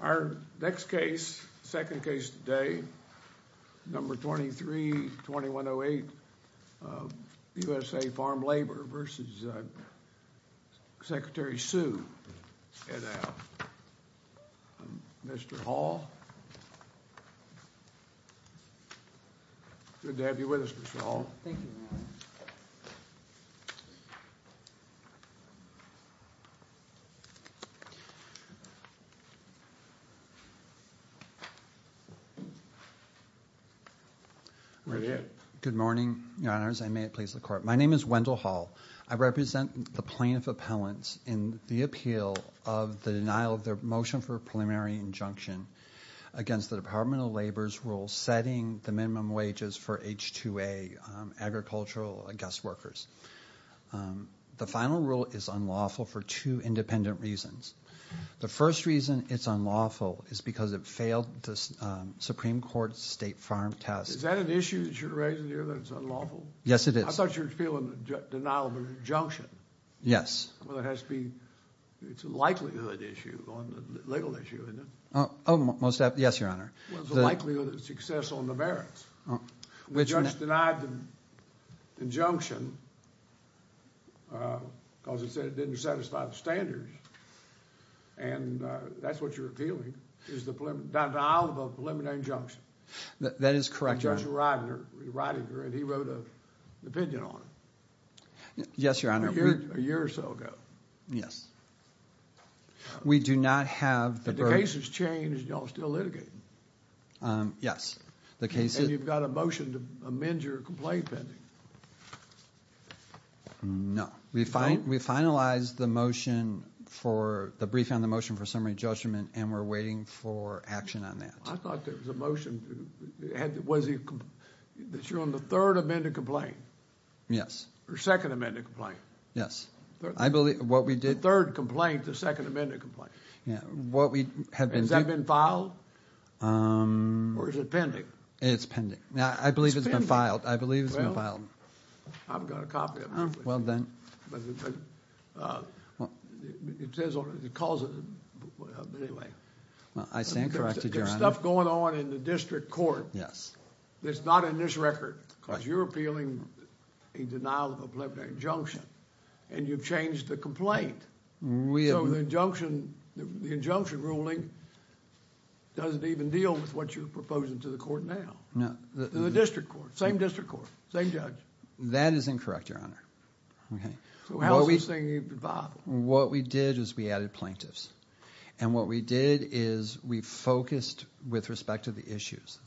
Our next case, second case today, No. 23-2108, USA Farm Labor v. Secretary Su and Mr. Hall. Good to have you with us, Mr. Hall. Good morning, Your Honors, and may it please the Court. My name is Wendell Hall. I represent the plaintiff appellants in the appeal of the denial of their motion for a preliminary injunction against the Department of Labor's rule setting the minimum wages for H-2A agricultural guest workers. The final rule is unlawful for two independent reasons. The first reason it's unlawful is because it failed the Supreme Court's state farm test. Is that an issue that you're raising here, that it's unlawful? Yes, it is. I thought you were feeling the denial of an injunction. Yes. Well, it has to be – it's a likelihood issue, a legal issue, isn't it? Oh, most – yes, Your Honor. Well, it's a likelihood of success on the merits. The judge denied the injunction because it said it didn't satisfy the standards, and that's what you're appealing, is the denial of a preliminary injunction. That is correct, Your Honor. And Judge Ridinger, he wrote an opinion on it. Yes, Your Honor. A year or so ago. Yes. We do not have the – The case has changed, and you're all still litigating. Yes. The case is – And you've got a motion to amend your complaint pending. No. We finalized the motion for – the briefing on the motion for summary judgment, and we're waiting for action on that. I thought there was a motion – was it – that you're on the third amended complaint. Yes. Or second amended complaint. Yes. I believe – what we did – The third complaint, the second amended complaint. Has that been filed? Or is it pending? It's pending. I believe it's been filed. I believe it's been filed. Well, I've got a copy of it. Well, then – But it says on it – it calls it – anyway. I stand corrected, Your Honor. There's stuff going on in the district court that's not in this record because you're appealing a denial of a preliminary injunction, and you've changed the complaint. So the injunction ruling doesn't even deal with what you're proposing to the court now. No. The district court. Same district court. Same judge. That is incorrect, Your Honor. So how is this thing even viable? What we did is we added plaintiffs, and what we did is we focused with respect to the issues.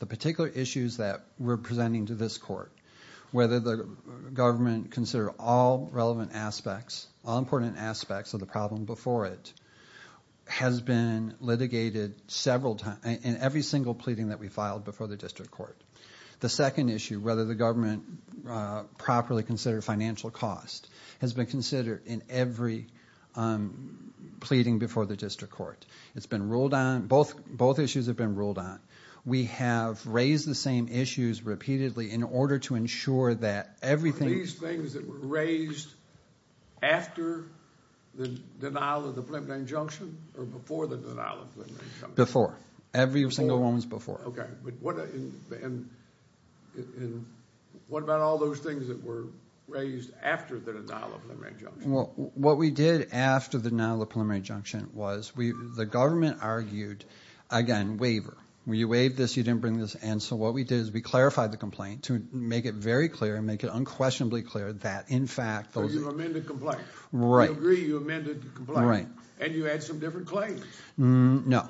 We're presenting to this court whether the government consider all relevant aspects, all important aspects of the problem before it has been litigated several times – in every single pleading that we filed before the district court. The second issue, whether the government properly considered financial cost, has been considered in every pleading before the district court. It's been ruled on. Both issues have been ruled on. We have raised the same issues repeatedly in order to ensure that everything – Are these things that were raised after the denial of the preliminary injunction or before the denial of the preliminary injunction? Before. Every single one was before. Okay. But what – and what about all those things that were raised after the denial of the preliminary injunction? What we did after the denial of the preliminary injunction was we – the government argued, again, waiver. You waived this. You didn't bring this in. So what we did is we clarified the complaint to make it very clear and make it unquestionably clear that, in fact, those – So you amended the complaint. Right. You agree you amended the complaint. Right. And you had some different claims. No.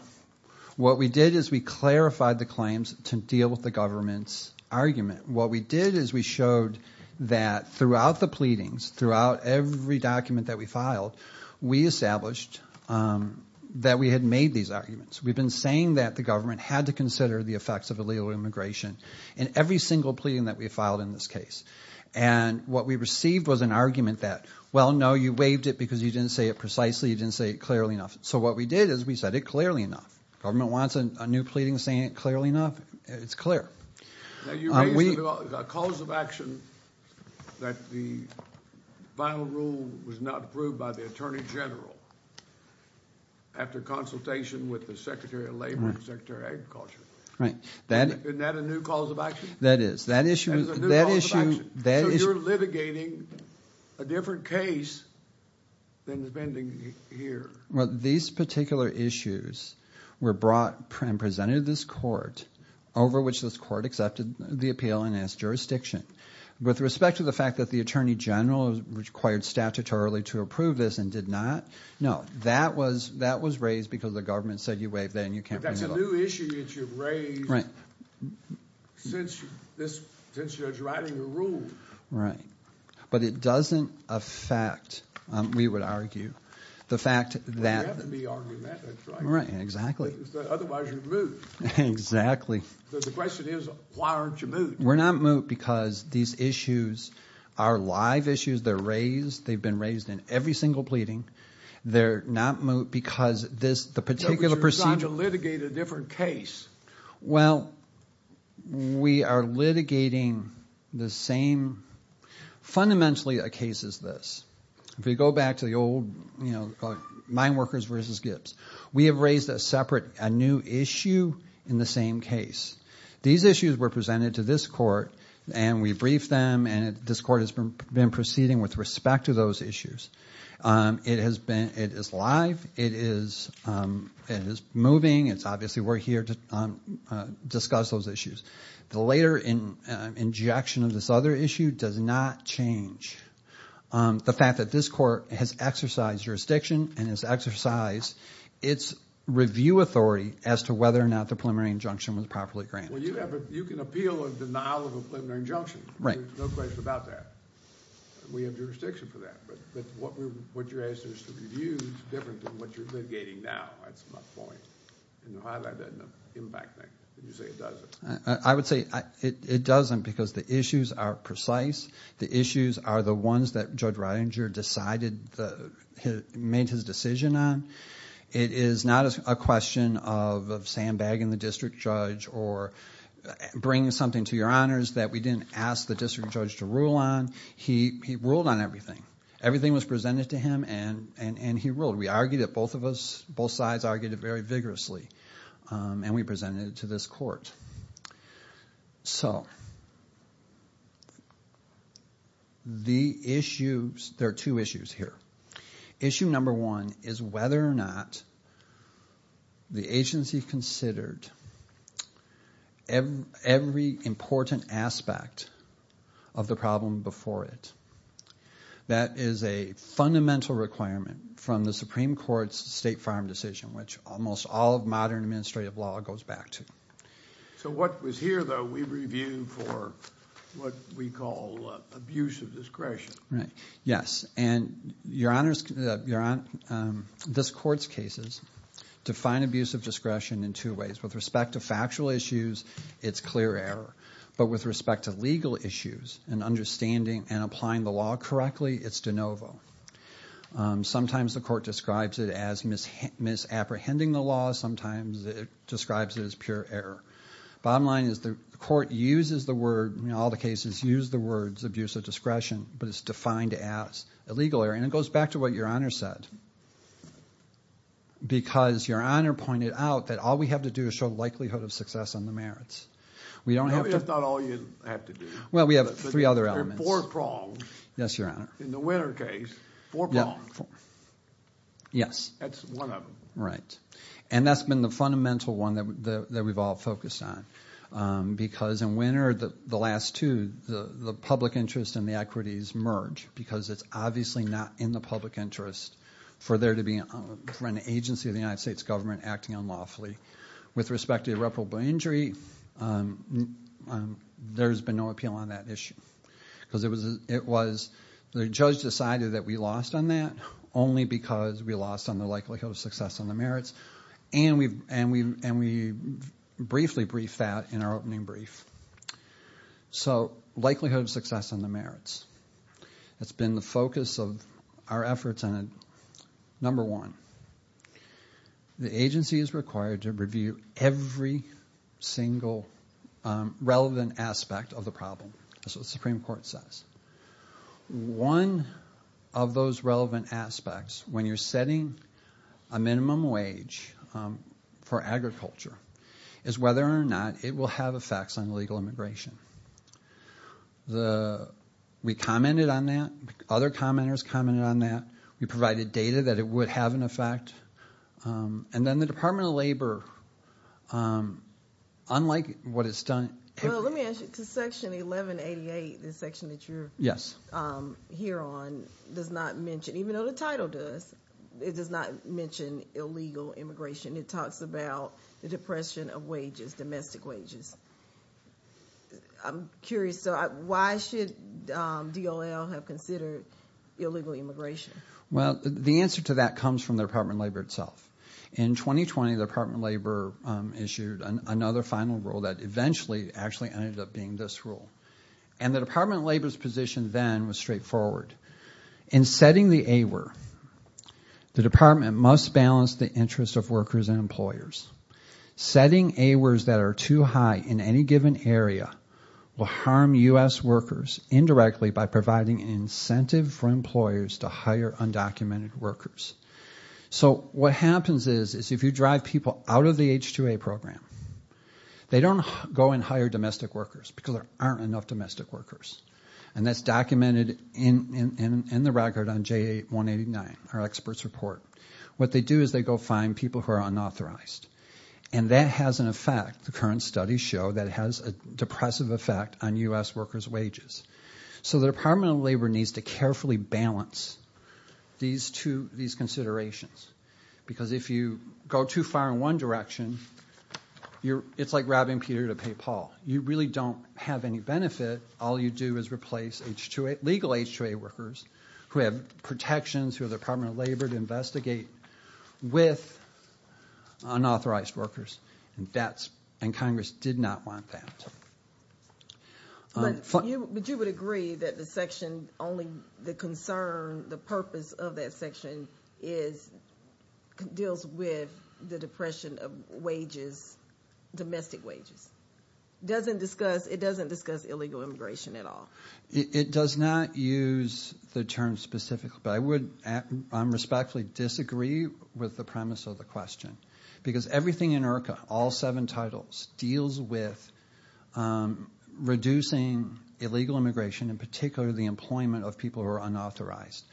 What we did is we clarified the claims to deal with the government's argument. What we did is we showed that throughout the pleadings, throughout every document that we filed, we established that we had made these arguments. We've been saying that the government had to consider the effects of illegal immigration in every single pleading that we filed in this case. And what we received was an argument that, well, no, you waived it because you didn't say it precisely. You didn't say it clearly enough. So what we did is we said it clearly enough. Government wants a new pleading saying it clearly enough. It's clear. Now you raised the cause of action that the final rule was not approved by the attorney general after consultation with the secretary of labor and secretary of agriculture. Right. Isn't that a new cause of action? That is. That is a new cause of action. So you're litigating a different case than is pending here. Well, these particular issues were brought and presented to this court over which this court accepted the appeal and asked jurisdiction. With respect to the fact that the attorney general required statutorily to approve this and did not, no, that was raised because the government said you waived that and you can't do that. But that's a new issue that you've raised since you're writing the rule. Right. But it doesn't affect, we would argue, the fact that. There have to be arguments. Right. Exactly. Otherwise you're moot. Exactly. So the question is why aren't you moot? We're not moot because these issues are live issues. They're raised. They've been raised in every single pleading. They're not moot because this particular procedure. But you're trying to litigate a different case. Well, we are litigating the same, fundamentally a case is this. If we go back to the old, you know, mine workers versus Gibbs. We have raised a separate, a new issue in the same case. These issues were presented to this court and we briefed them and this court has been proceeding with respect to those issues. It has been, it is live. It is moving. It's obviously we're here to discuss those issues. The later injection of this other issue does not change the fact that this court has exercised jurisdiction and has exercised its review authority as to whether or not the preliminary injunction was properly granted. Well, you can appeal a denial of a preliminary injunction. Right. There's no question about that. We have jurisdiction for that. But what you're asking us to review is different than what you're litigating now. That's my point. And to highlight that in the impact, you say it doesn't. I would say it doesn't because the issues are precise. The issues are the ones that Judge Ridinger decided, made his decision on. It is not a question of sandbagging the district judge or bringing something to your honors that we didn't ask the district judge to rule on. He ruled on everything. Everything was presented to him and he ruled. We argued it, both of us, both sides argued it very vigorously, and we presented it to this court. So the issues, there are two issues here. Issue number one is whether or not the agency considered every important aspect of the problem before it. That is a fundamental requirement from the Supreme Court's State Farm decision, which almost all of modern administrative law goes back to. So what was here, though, we review for what we call abuse of discretion. Right. Yes. And this Court's cases define abuse of discretion in two ways. With respect to factual issues, it's clear error. But with respect to legal issues and understanding and applying the law correctly, it's de novo. Sometimes the Court describes it as misapprehending the law. Sometimes it describes it as pure error. Bottom line is the Court uses the word, in all the cases, use the words abuse of discretion, but it's defined as illegal error. And it goes back to what your honor said because your honor pointed out that all we have to do is show likelihood of success on the merits. No, that's not all you have to do. Well, we have three other elements. Four prongs. Yes, your honor. In the Winner case, four prongs. Yes. That's one of them. Right. And that's been the fundamental one that we've all focused on because in Winner, the last two, the public interest and the equities merge because it's obviously not in the public interest for an agency of the United States government acting unlawfully. With respect to irreparable injury, there's been no appeal on that issue because the judge decided that we lost on that only because we lost on the likelihood of success on the merits. And we briefly briefed that in our opening brief. So likelihood of success on the merits. That's been the focus of our efforts on it. Number one, the agency is required to review every single relevant aspect of the problem. That's what the Supreme Court says. One of those relevant aspects, when you're setting a minimum wage for agriculture, is whether or not it will have effects on legal immigration. We commented on that. Other commenters commented on that. We provided data that it would have an effect. And then the Department of Labor, unlike what it's done. Well, let me ask you. Section 1188, the section that you're here on, does not mention, even though the title does, it does not mention illegal immigration. It talks about the depression of wages, domestic wages. I'm curious. Why should DOL have considered illegal immigration? Well, the answer to that comes from the Department of Labor itself. In 2020, the Department of Labor issued another final rule that eventually actually ended up being this rule. And the Department of Labor's position then was straightforward. In setting the AWER, the department must balance the interests of workers and employers. Setting AWERS that are too high in any given area will harm U.S. workers indirectly by providing an incentive for employers to hire undocumented workers. So what happens is, if you drive people out of the H-2A program, they don't go and hire domestic workers because there aren't enough domestic workers. And that's documented in the record on JA 189, our expert's report. What they do is they go find people who are unauthorized. And that has an effect, the current studies show, that has a depressive effect on U.S. workers' wages. So the Department of Labor needs to carefully balance these considerations. Because if you go too far in one direction, it's like robbing Peter to pay Paul. You really don't have any benefit. All you do is replace legal H-2A workers who have protections, who have the Department of Labor to investigate with unauthorized workers. And Congress did not want that. But you would agree that the section, only the concern, the purpose of that section, deals with the depression of wages, domestic wages? It doesn't discuss illegal immigration at all? It does not use the term specifically. But I would respectfully disagree with the premise of the question. Because everything in IRCA, all seven titles, deals with reducing illegal immigration, in particular the employment of people who are unauthorized.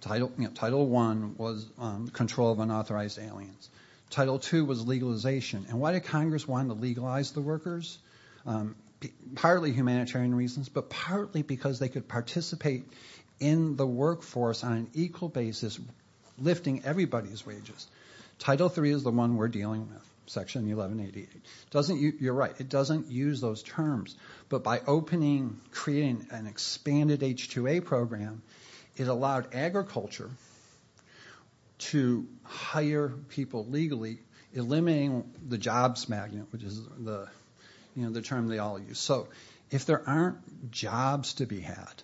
Title I was control of unauthorized aliens. Title II was legalization. And why did Congress want to legalize the workers? Partly humanitarian reasons, but partly because they could participate in the workforce on an equal basis, lifting everybody's wages. Title III is the one we're dealing with, Section 1188. You're right. It doesn't use those terms. But by opening, creating an expanded H-2A program, it allowed agriculture to hire people legally, eliminating the jobs magnet, which is the term they all use. So if there aren't jobs to be had,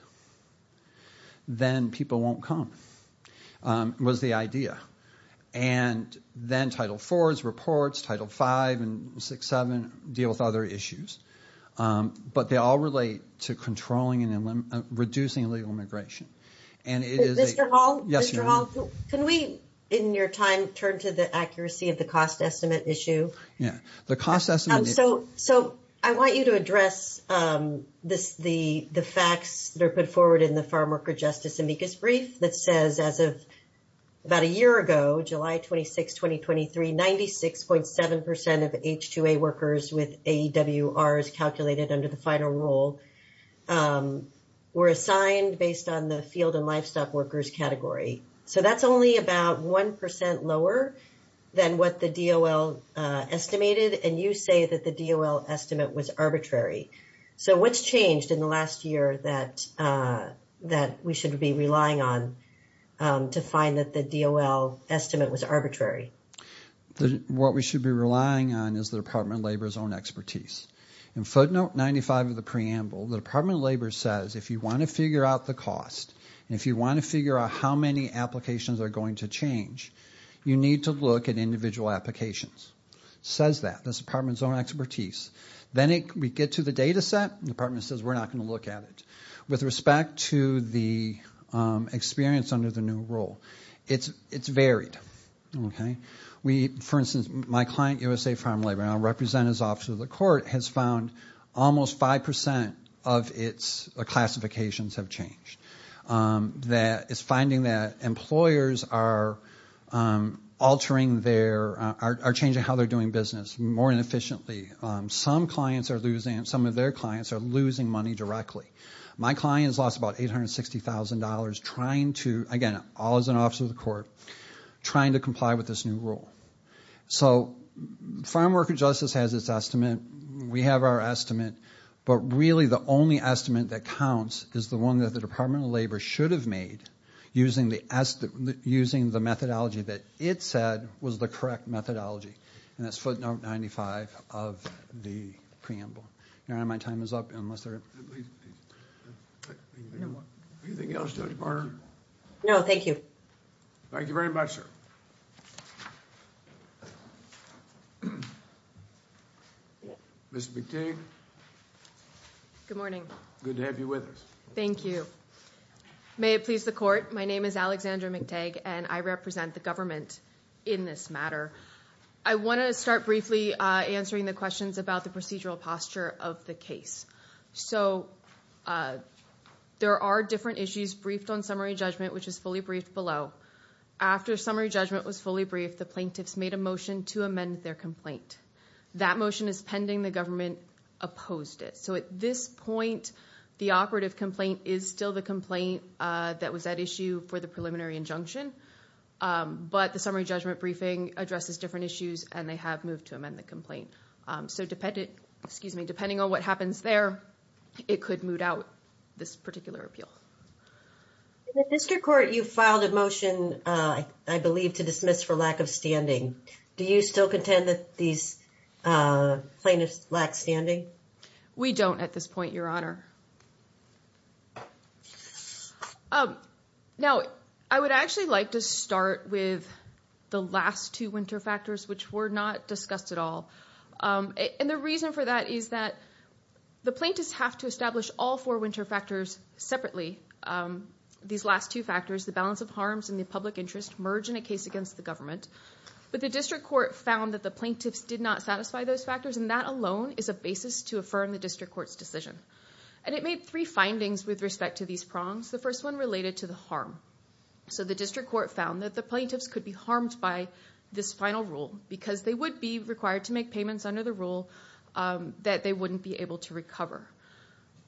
then people won't come, was the idea. And then Title IV's reports, Title V and VI-VII deal with other issues. But they all relate to controlling and reducing illegal immigration. Mr. Hall? Yes, ma'am. Can we, in your time, turn to the accuracy of the cost estimate issue? Yeah. So I want you to address the facts that are put forward in the Farmworker Justice Amicus Brief that says as of about a year ago, July 26, 2023, 96.7% of H-2A workers with AEWRs calculated under the final rule were assigned based on the field and livestock workers category. So that's only about 1% lower than what the DOL estimated, and you say that the DOL estimate was arbitrary. So what's changed in the last year that we should be relying on to find that the DOL estimate was arbitrary? What we should be relying on is the Department of Labor's own expertise. In footnote 95 of the preamble, the Department of Labor says, if you want to figure out the cost, and if you want to figure out how many applications are going to change, you need to look at individual applications. It says that. That's the Department's own expertise. Then we get to the data set, and the Department says, we're not going to look at it. With respect to the experience under the new rule, it's varied. For instance, my client, USA Farm Labor, and I represent his office with the court, has found almost 5% of its classifications have changed. It's finding that employers are changing how they're doing business more inefficiently. Some of their clients are losing money directly. My client has lost about $860,000 trying to, again, all as an office of the court, trying to comply with this new rule. So Farm Worker Justice has its estimate. We have our estimate. But really the only estimate that counts is the one that the Department of Labor should have made using the methodology that it said was the correct methodology, and that's footnote 95 of the preamble. Your Honor, my time is up. Anything else to add, Your Honor? No, thank you. Thank you very much, sir. Ms. McTague. Good morning. Good to have you with us. Thank you. May it please the court, my name is Alexandra McTague, and I represent the government in this matter. I want to start briefly answering the questions about the procedural posture of the case. So there are different issues briefed on summary judgment, which is fully briefed below. After summary judgment was fully briefed, the plaintiffs made a motion to amend their complaint. That motion is pending. The government opposed it. So at this point, the operative complaint is still the complaint that was at issue for the preliminary injunction. But the summary judgment briefing addresses different issues, and they have moved to amend the complaint. So depending on what happens there, it could moot out this particular appeal. In the district court, you filed a motion, I believe, to dismiss for lack of standing. Do you still contend that these plaintiffs lack standing? We don't at this point, Your Honor. Now, I would actually like to start with the last two winter factors, which were not discussed at all. And the reason for that is that the plaintiffs have to establish all four winter factors separately. These last two factors, the balance of harms and the public interest, merge in a case against the government. But the district court found that the plaintiffs did not satisfy those factors, and that alone is a basis to affirm the district court's decision. And it made three findings with respect to these prongs. The first one related to the harm. So the district court found that the plaintiffs could be harmed by this final rule because they would be required to make payments under the rule that they wouldn't be able to recover.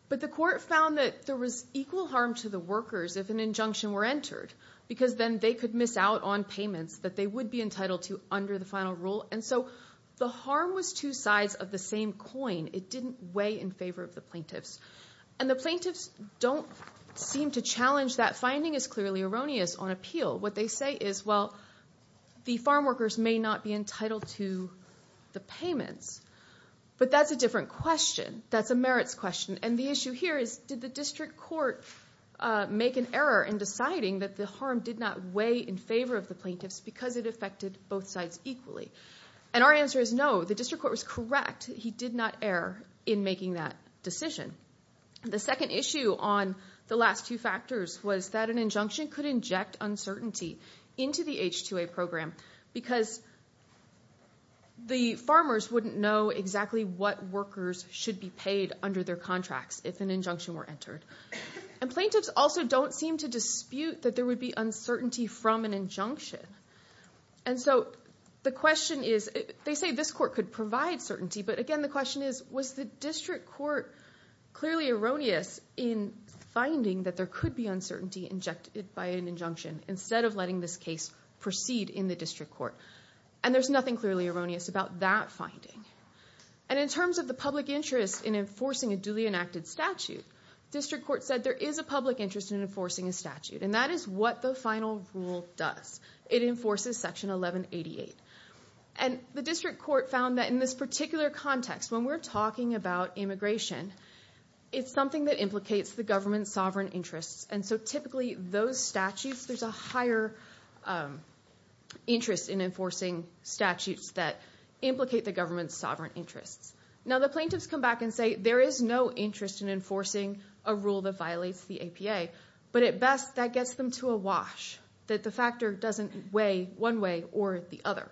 But the court found that there was equal harm to the workers if an injunction were entered because then they could miss out on payments that they would be entitled to under the final rule. And so the harm was two sides of the same coin. It didn't weigh in favor of the plaintiffs. And the plaintiffs don't seem to challenge that finding as clearly erroneous on appeal. What they say is, well, the farm workers may not be entitled to the payments. But that's a different question. That's a merits question. And the issue here is did the district court make an error in deciding that the harm did not weigh in favor of the plaintiffs because it affected both sides equally? And our answer is no. The district court was correct. He did not err in making that decision. The second issue on the last two factors was that an injunction could inject uncertainty into the H-2A program because the farmers wouldn't know exactly what workers should be paid under their contracts if an injunction were And plaintiffs also don't seem to dispute that there would be uncertainty from an injunction. And so the question is, they say this court could provide certainty, but again, the question is, was the district court clearly erroneous in finding that there could be uncertainty injected by an injunction instead of letting this case proceed in the district court? And there's nothing clearly erroneous about that finding. And in terms of the public interest in enforcing a duly enacted statute, district court said there is a public interest in enforcing a statute. And that is what the final rule does. It enforces section 1188. And the district court found that in this particular context, when we're talking about immigration, it's something that implicates the government's sovereign interests. And so typically those statutes, there's a higher interest in enforcing statutes that implicate the government's sovereign interests. Now, the plaintiffs come back and say there is no interest in enforcing a rule that violates the APA. But at best, that gets them to a wash, that the factor doesn't weigh one way or the other.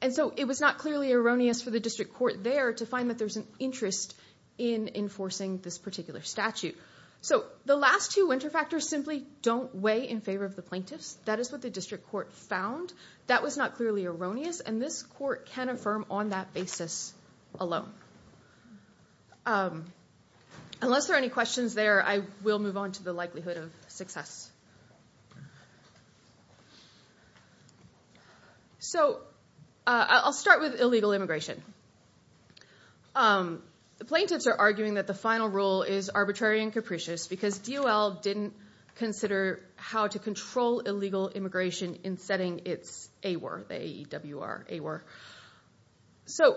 And so it was not clearly erroneous for the district court there to find that there's an interest in enforcing this particular statute. So the last two interfactors simply don't weigh in favor of the plaintiffs. That is what the district court found. That was not clearly erroneous. And this court can affirm on that basis alone. Unless there are any questions there, I will move on to the likelihood of success. So I'll start with illegal immigration. The plaintiffs are arguing that the final rule is arbitrary and capricious because DOL didn't consider how to control illegal immigration in setting its AWER, the A-E-W-R, AWER. So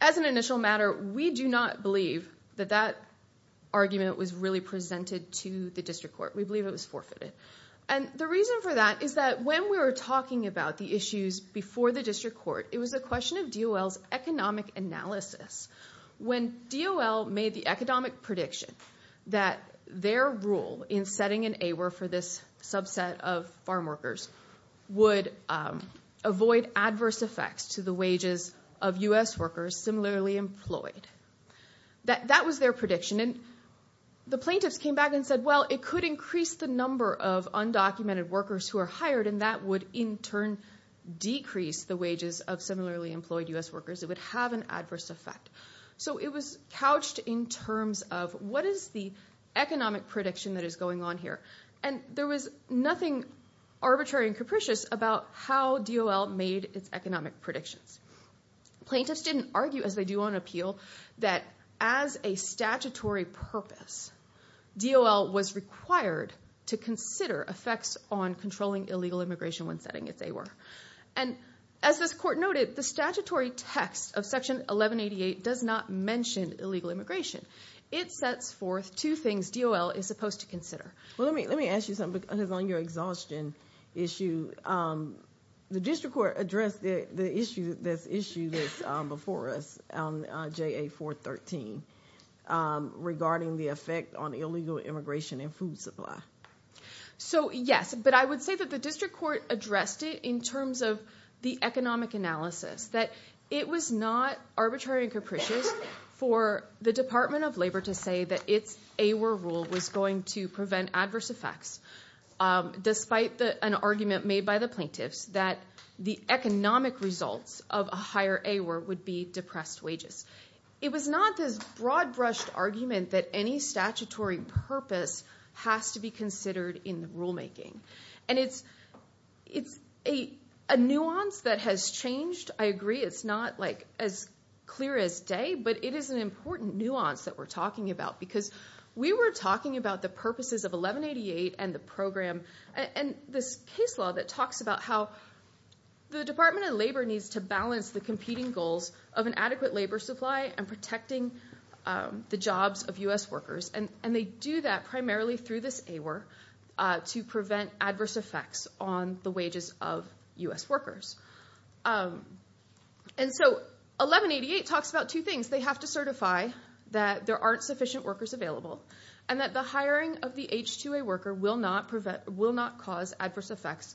as an initial matter, we do not believe that that argument was really presented to the district court. We believe it was forfeited. And the reason for that is that when we were talking about the issues before the district court, it was a question of DOL's economic analysis. When DOL made the economic prediction that their rule in setting an AWER for this subset of farm workers would avoid adverse effects to the wages of U.S. workers similarly employed, that was their prediction. And the plaintiffs came back and said, well, it could increase the number of undocumented workers who are hired, and that would, in turn, decrease the wages of similarly employed U.S. workers. It would have an adverse effect. So it was couched in terms of what is the economic prediction that is going on here. And there was nothing arbitrary and capricious about how DOL made its economic predictions. Plaintiffs didn't argue, as they do on appeal, that as a statutory purpose, DOL was required to consider effects on controlling illegal immigration when setting its AWER. And as this court noted, the statutory text of Section 1188 does not mention illegal immigration. It sets forth two things DOL is supposed to consider. Well, let me ask you something, because on your exhaustion issue, the district court addressed the issue that's issued before us, JA 413, regarding the effect on illegal immigration and food supply. So, yes, but I would say that the district court addressed it in terms of the economic analysis, that it was not arbitrary and capricious for the Department of Labor to say that its AWER rule was going to prevent adverse effects, despite an argument made by the plaintiffs that the economic results of a higher AWER would be depressed wages. It was not this broad-brushed argument that any statutory purpose has to be considered in the rulemaking. And it's a nuance that has changed. I agree it's not, like, as clear as day, but it is an important nuance that we're talking about, because we were talking about the purposes of 1188 and the program, and this case law that talks about how the Department of Labor needs to balance the competing goals of an adequate labor supply and protecting the jobs of U.S. workers. And they do that primarily through this AWER to prevent adverse effects on the wages of U.S. workers. And so 1188 talks about two things. They have to certify that there aren't sufficient workers available, and that the hiring of the H-2A worker will not cause adverse effects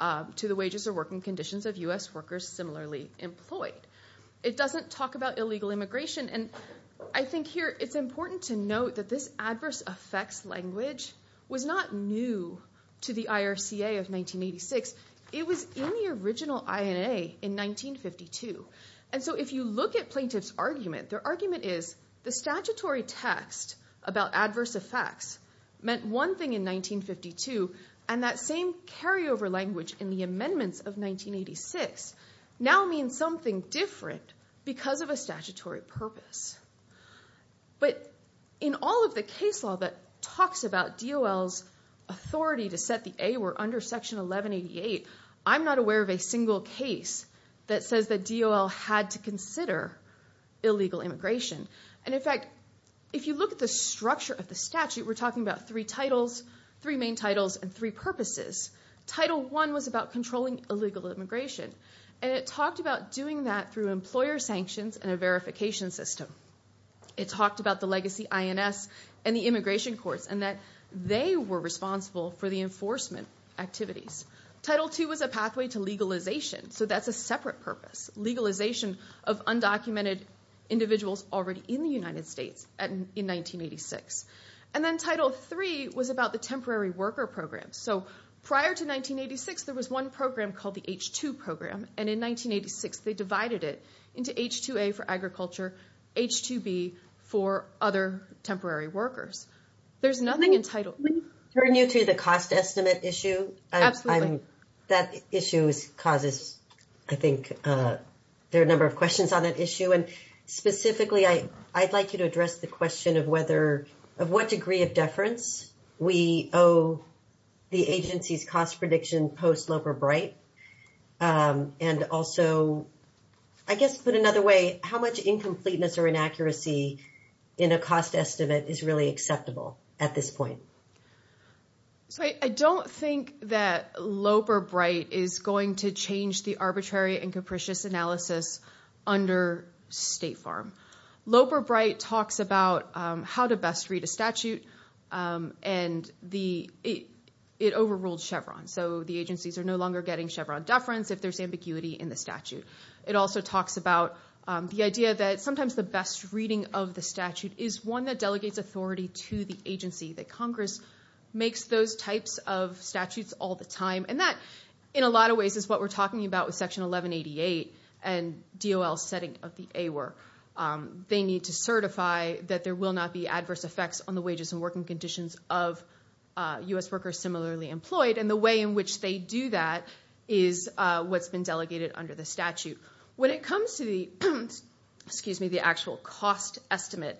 to the wages or working conditions of U.S. workers similarly employed. It doesn't talk about illegal immigration. And I think here it's important to note that this adverse effects language was not new to the IRCA of 1986. It was in the original INA in 1952. And so if you look at plaintiffs' argument, their argument is, the statutory text about adverse effects meant one thing in 1952, and that same carryover language in the amendments of 1986 now means something different because of a statutory purpose. But in all of the case law that talks about DOL's authority to set the AWER under Section 1188, I'm not aware of a single case that says that DOL had to consider illegal immigration. And, in fact, if you look at the structure of the statute, we're talking about three titles, three main titles, and three purposes. Title I was about controlling illegal immigration, and it talked about doing that through employer sanctions and a verification system. It talked about the legacy INS and the immigration courts and that they were responsible for the enforcement activities. Title II was a pathway to legalization, so that's a separate purpose, legalization of undocumented individuals already in the United States in 1986. And then Title III was about the temporary worker program. So prior to 1986, there was one program called the H-2 program, and in 1986 they divided it into H-2A for agriculture, H-2B for other temporary workers. There's nothing in Title III. Can I turn you to the cost estimate issue? Absolutely. That issue causes, I think, there are a number of questions on that issue, and specifically I'd like you to address the question of what degree of and also, I guess to put it another way, how much incompleteness or inaccuracy in a cost estimate is really acceptable at this point? I don't think that Loeb or Bright is going to change the arbitrary and capricious analysis under State Farm. Loeb or Bright talks about how to best read a statute, and it overruled Chevron, so the agencies are no longer getting Chevron deference if there's ambiguity in the statute. It also talks about the idea that sometimes the best reading of the statute is one that delegates authority to the agency, that Congress makes those types of statutes all the time, and that in a lot of ways is what we're talking about with Section 1188 and DOL's setting of the AWER. They need to certify that there will not be adverse effects on the wages and working conditions of U.S. workers similarly employed, and the way in which they do that is what's been delegated under the statute. When it comes to the actual cost estimate,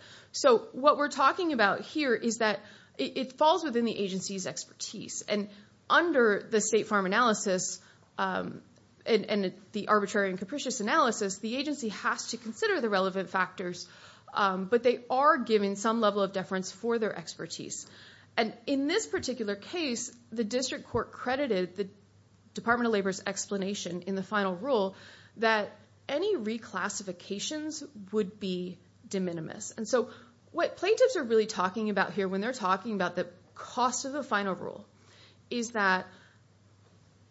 what we're talking about here is that it falls within the agency's expertise, and under the State Farm analysis and the arbitrary and capricious analysis, the agency has to consider the relevant factors, but they are given some level of deference for their expertise. And in this particular case, the district court credited the Department of Labor's explanation in the final rule that any reclassifications would be de minimis. And so what plaintiffs are really talking about here when they're talking about the cost of the final rule is that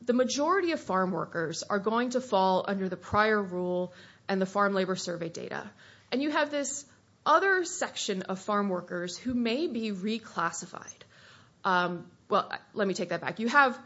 the majority of farm workers are going to fall under the prior rule and the Farm Labor Survey data, and you have this other section of farm workers who may be reclassified. Well, let me take that back. You have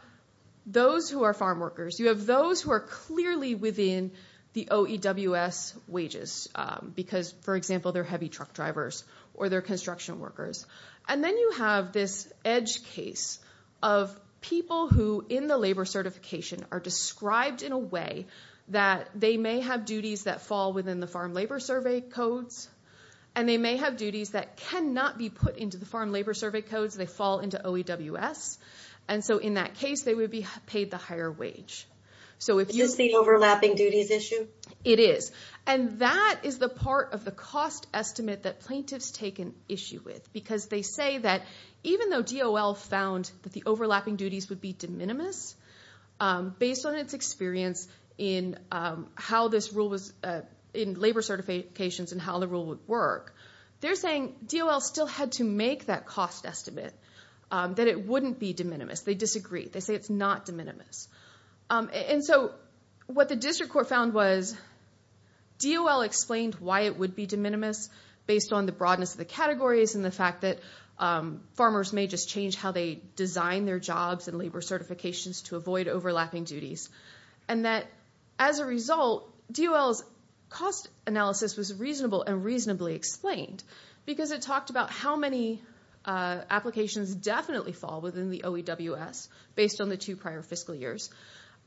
those who are farm workers. You have those who are clearly within the OEWS wages because, for example, they're heavy truck drivers or they're construction workers, and then you have this edge case of people who, in the labor certification, are described in a way that they may have duties that fall within the Farm Labor Survey codes, and they may have duties that cannot be put into the Farm Labor Survey codes. They fall into OEWS. And so in that case, they would be paid the higher wage. Is this the overlapping duties issue? It is. And that is the part of the cost estimate that plaintiffs take an issue with because they say that even though DOL found that the overlapping duties would be de minimis, based on its experience in labor certifications and how the rule would work, they're saying DOL still had to make that cost estimate that it wouldn't be de minimis. They disagree. They say it's not de minimis. And so what the district court found was DOL explained why it would be de minimis based on the broadness of the categories and the fact that farmers may just change how they design their jobs and labor certifications to avoid overlapping duties, and that as a result, DOL's cost analysis was reasonable and reasonably explained because it talked about how many applications definitely fall within the OEWS based on the two prior fiscal years.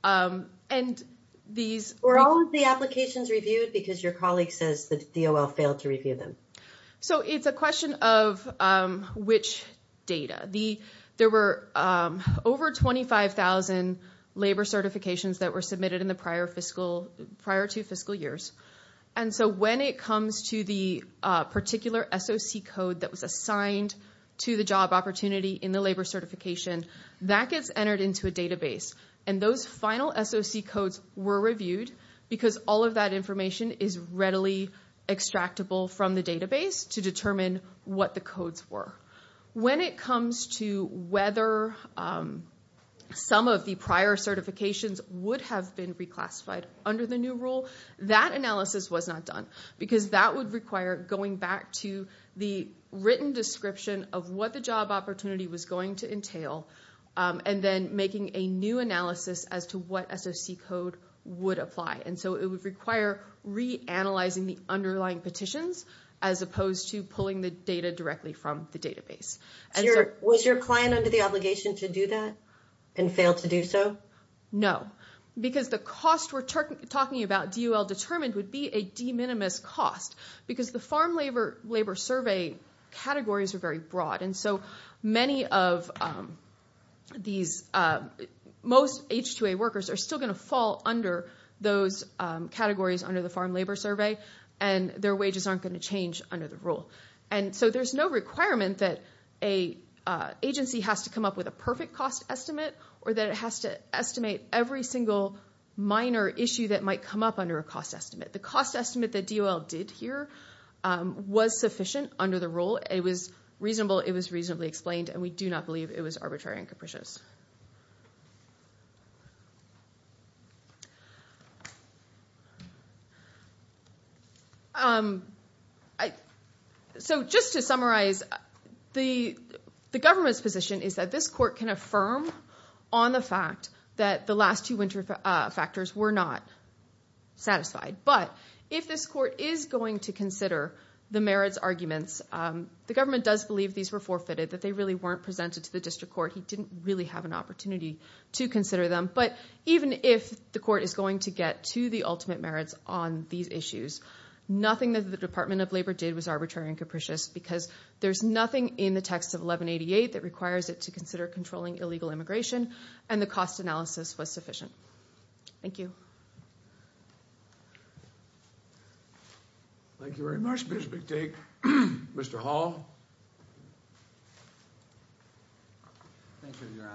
And these were all of the applications reviewed because your colleague says that DOL failed to review them. So it's a question of which data. There were over 25,000 labor certifications that were submitted in the prior two fiscal years. And so when it comes to the particular SOC code that was assigned to the job opportunity in the labor certification, that gets entered into a database. And those final SOC codes were reviewed because all of that information is readily extractable from the database to determine what the codes were. When it comes to whether some of the prior certifications would have been reclassified under the new rule, that analysis was not done because that would require going back to the written description of what the job opportunity was going to entail and then making a new analysis as to what SOC code would apply. And so it would require reanalyzing the underlying petitions as opposed to pulling the data directly from the database. Was your client under the obligation to do that and fail to do so? No, because the cost we're talking about, DOL determined, would be a de minimis cost because the farm labor survey categories are very broad. And so many of these, most H-2A workers are still going to fall under those categories under the farm labor survey, and their wages aren't going to change under the rule. And so there's no requirement that an agency has to come up with a perfect cost estimate or that it has to estimate every single minor issue that might come up under a cost estimate. The cost estimate that DOL did here was sufficient under the rule. It was reasonable, it was reasonably explained, and we do not believe it was arbitrary and capricious. So just to summarize, the government's position is that this court can affirm on the fact that the last two winter factors were not satisfied. But if this court is going to consider the merits arguments, the government does believe these were forfeited, that they really weren't presented to the district court. He didn't really have an opportunity to consider them. But even if the court is going to get to the ultimate merits on these issues, nothing that the Department of Labor did was arbitrary and capricious because there's nothing in the text of 1188 that requires it to consider controlling illegal immigration, and the cost analysis was sufficient. Thank you. Thank you very much, Ms. McTague. Mr. Hall? Thank you, Your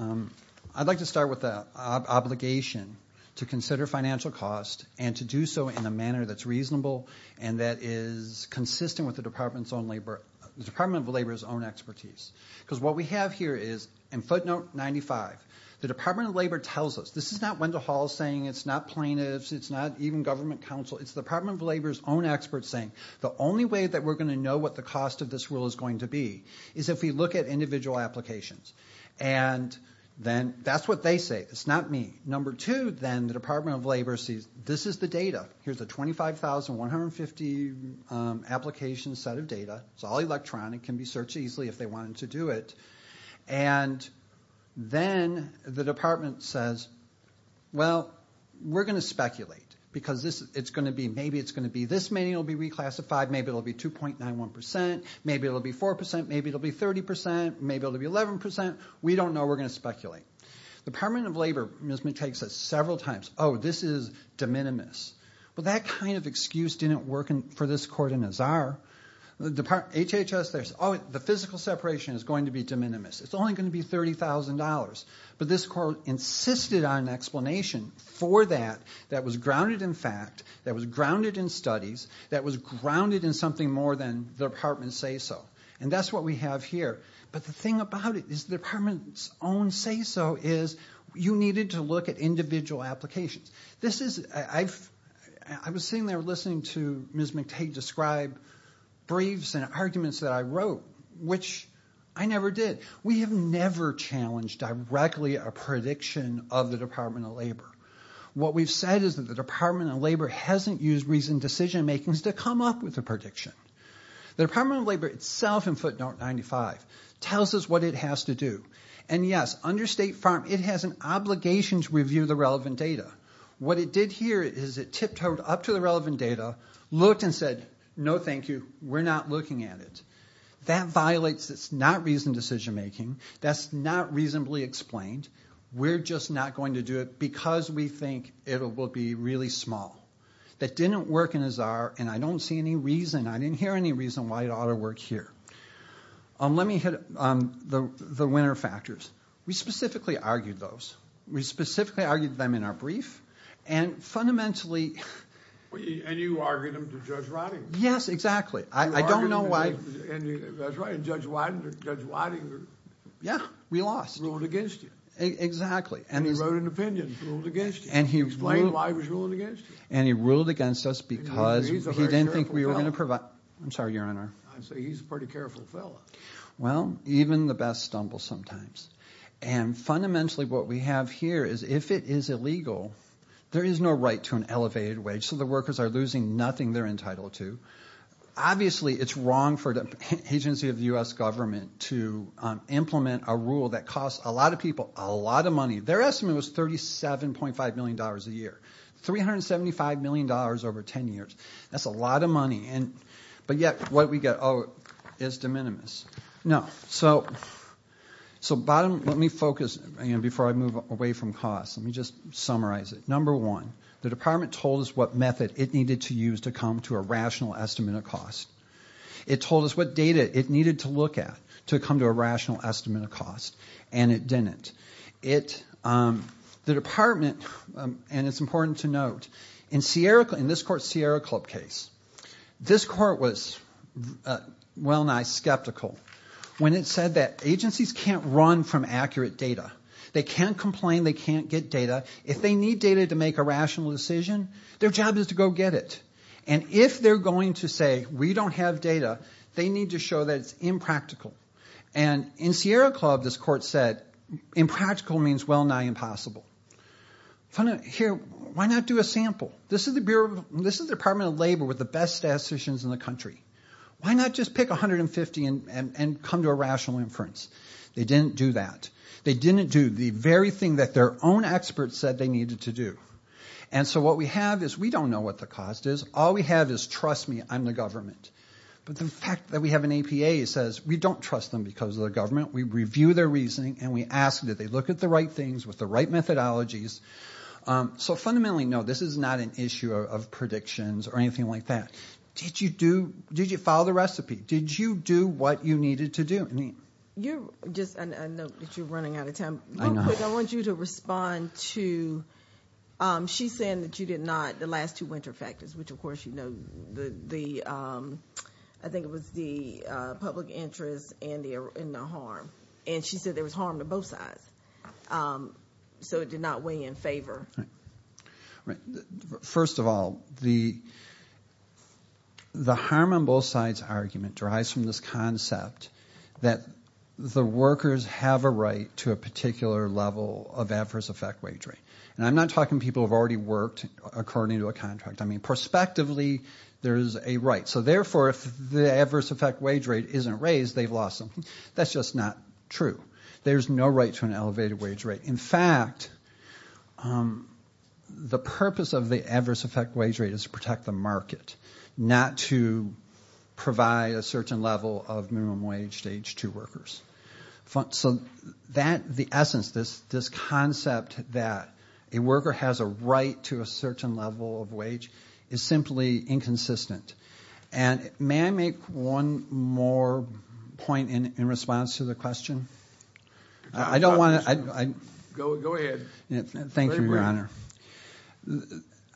Honor. I'd like to start with the obligation to consider financial cost and to do so in a manner that's reasonable and that is consistent with the Department of Labor's own expertise. Because what we have here is, and footnote 95, the Department of Labor tells us, this is not Wendell Hall saying it's not plaintiffs, it's not even government counsel, it's the Department of Labor's own experts saying, the only way that we're going to know what the cost of this rule is going to be is if we look at individual applications. And then that's what they say, it's not me. Number two, then, the Department of Labor sees this is the data. Here's a 25,150 application set of data. It's all electronic, can be searched easily if they wanted to do it. And then the department says, well, we're going to speculate because maybe it's going to be this many will be reclassified, maybe it'll be 2.91%, maybe it'll be 4%, maybe it'll be 30%, maybe it'll be 11%, we don't know, we're going to speculate. The Department of Labor takes this several times. Oh, this is de minimis. Well, that kind of excuse didn't work for this court in Azar. HHS says, oh, the physical separation is going to be de minimis. It's only going to be $30,000. But this court insisted on an explanation for that that was grounded in fact, that was grounded in studies, that was grounded in something more than the department say so. And that's what we have here. But the thing about it is the department's own say so is you needed to look at individual applications. I was sitting there listening to Ms. McTague describe briefs and arguments that I wrote, which I never did. We have never challenged directly a prediction of the Department of Labor. What we've said is that the Department of Labor hasn't used reasoned decision-making to come up with a prediction. The Department of Labor itself in footnote 95 tells us what it has to do. And yes, under State Farm, it has an obligation to review the relevant data. What it did here is it tipped over up to the relevant data, looked and said, no, thank you, we're not looking at it. That violates, it's not reasoned decision-making. That's not reasonably explained. We're just not going to do it because we think it will be really small. That didn't work in Azar, and I don't see any reason, I didn't hear any reason why it ought to work here. Let me hit the winner factors. We specifically argued those. We specifically argued them in our brief, and fundamentally... And you argued them to Judge Ridinger. Yes, exactly. I don't know why... That's right, and Judge Ridinger... Yeah, we lost. Ruled against you. Exactly. And he wrote an opinion, ruled against you. Explain why he was ruling against you. And he ruled against us because he didn't think we were going to provide... I'm sorry, Your Honor. I say he's a pretty careful fellow. Well, even the best stumble sometimes. And fundamentally, what we have here is if it is illegal, there is no right to an elevated wage, so the workers are losing nothing they're entitled to. Obviously, it's wrong for the agency of the U.S. government to implement a rule that costs a lot of people a lot of money. Their estimate was $37.5 million a year. $375 million over 10 years. That's a lot of money. But yet, what do we get? Oh, it's de minimis. No. So, bottom... Let me focus before I move away from costs. Let me just summarize it. Number one, the department told us what method it needed to use to come to a rational estimate of cost. It told us what data it needed to look at to come to a rational estimate of cost, and it didn't. The department, and it's important to note, in this court's Sierra Club case, this court was well-nigh skeptical when it said that agencies can't run from accurate data. They can't complain, they can't get data. If they need data to make a rational decision, their job is to go get it. And if they're going to say, we don't have data, they need to show that it's impractical. And in Sierra Club, this court said, impractical means well-nigh impossible. Here, why not do a sample? This is the Department of Labor with the best statisticians in the country. Why not just pick 150 and come to a rational inference? They didn't do that. They didn't do the very thing that their own experts said they needed to do. And so what we have is, we don't know what the cost is. All we have is, trust me, I'm the government. But the fact that we have an APA says, we don't trust them because of the government. We review their reasoning, and we ask that they look at the right things with the right methodologies. So fundamentally, no, this is not an issue of predictions or anything like that. Did you follow the recipe? Did you do what you needed to do? Just a note that you're running out of time. Real quick, I want you to respond to, she's saying that you did not, the last two winter factors, which, of course, you know, I think it was the public interest and the harm. And she said there was harm to both sides. So it did not weigh in favor. First of all, the harm on both sides argument derives from this concept that the workers have a right to a particular level of adverse effect wage rate. And I'm not talking people who have already worked according to a contract. I mean, prospectively, there is a right. So therefore, if the adverse effect wage rate isn't raised, they've lost something. That's just not true. There's no right to an elevated wage rate. In fact, the purpose of the adverse effect wage rate is to protect the market, not to provide a certain level of minimum wage to age 2 workers. So the essence, this concept that a worker has a right to a certain level of wage is simply inconsistent. And may I make one more point in response to the question? I don't want to... Go ahead. Thank you, Your Honor.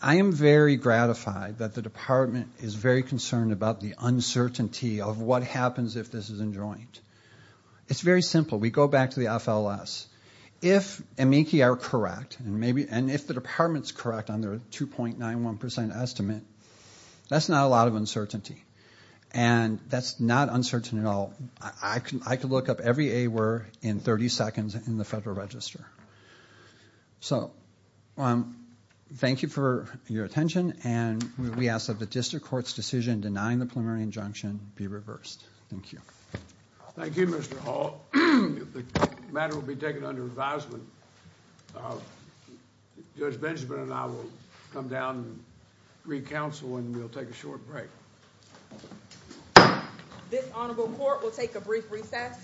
I am very gratified that the department is very concerned about the uncertainty of what happens if this is enjoined. It's very simple. We go back to the FLS. If amici are correct, and if the department's correct on their 2.91% estimate, that's not a lot of uncertainty. And that's not uncertain at all. I could look up every A-word in 30 seconds in the Federal Register. So thank you for your attention, and we ask that the district court's decision denying the preliminary injunction be reversed. Thank you. Thank you, Mr. Hall. The matter will be taken under advisement. Judge Benjamin and I will come down and re-counsel, and we'll take a short break. This honorable court will take a brief recess.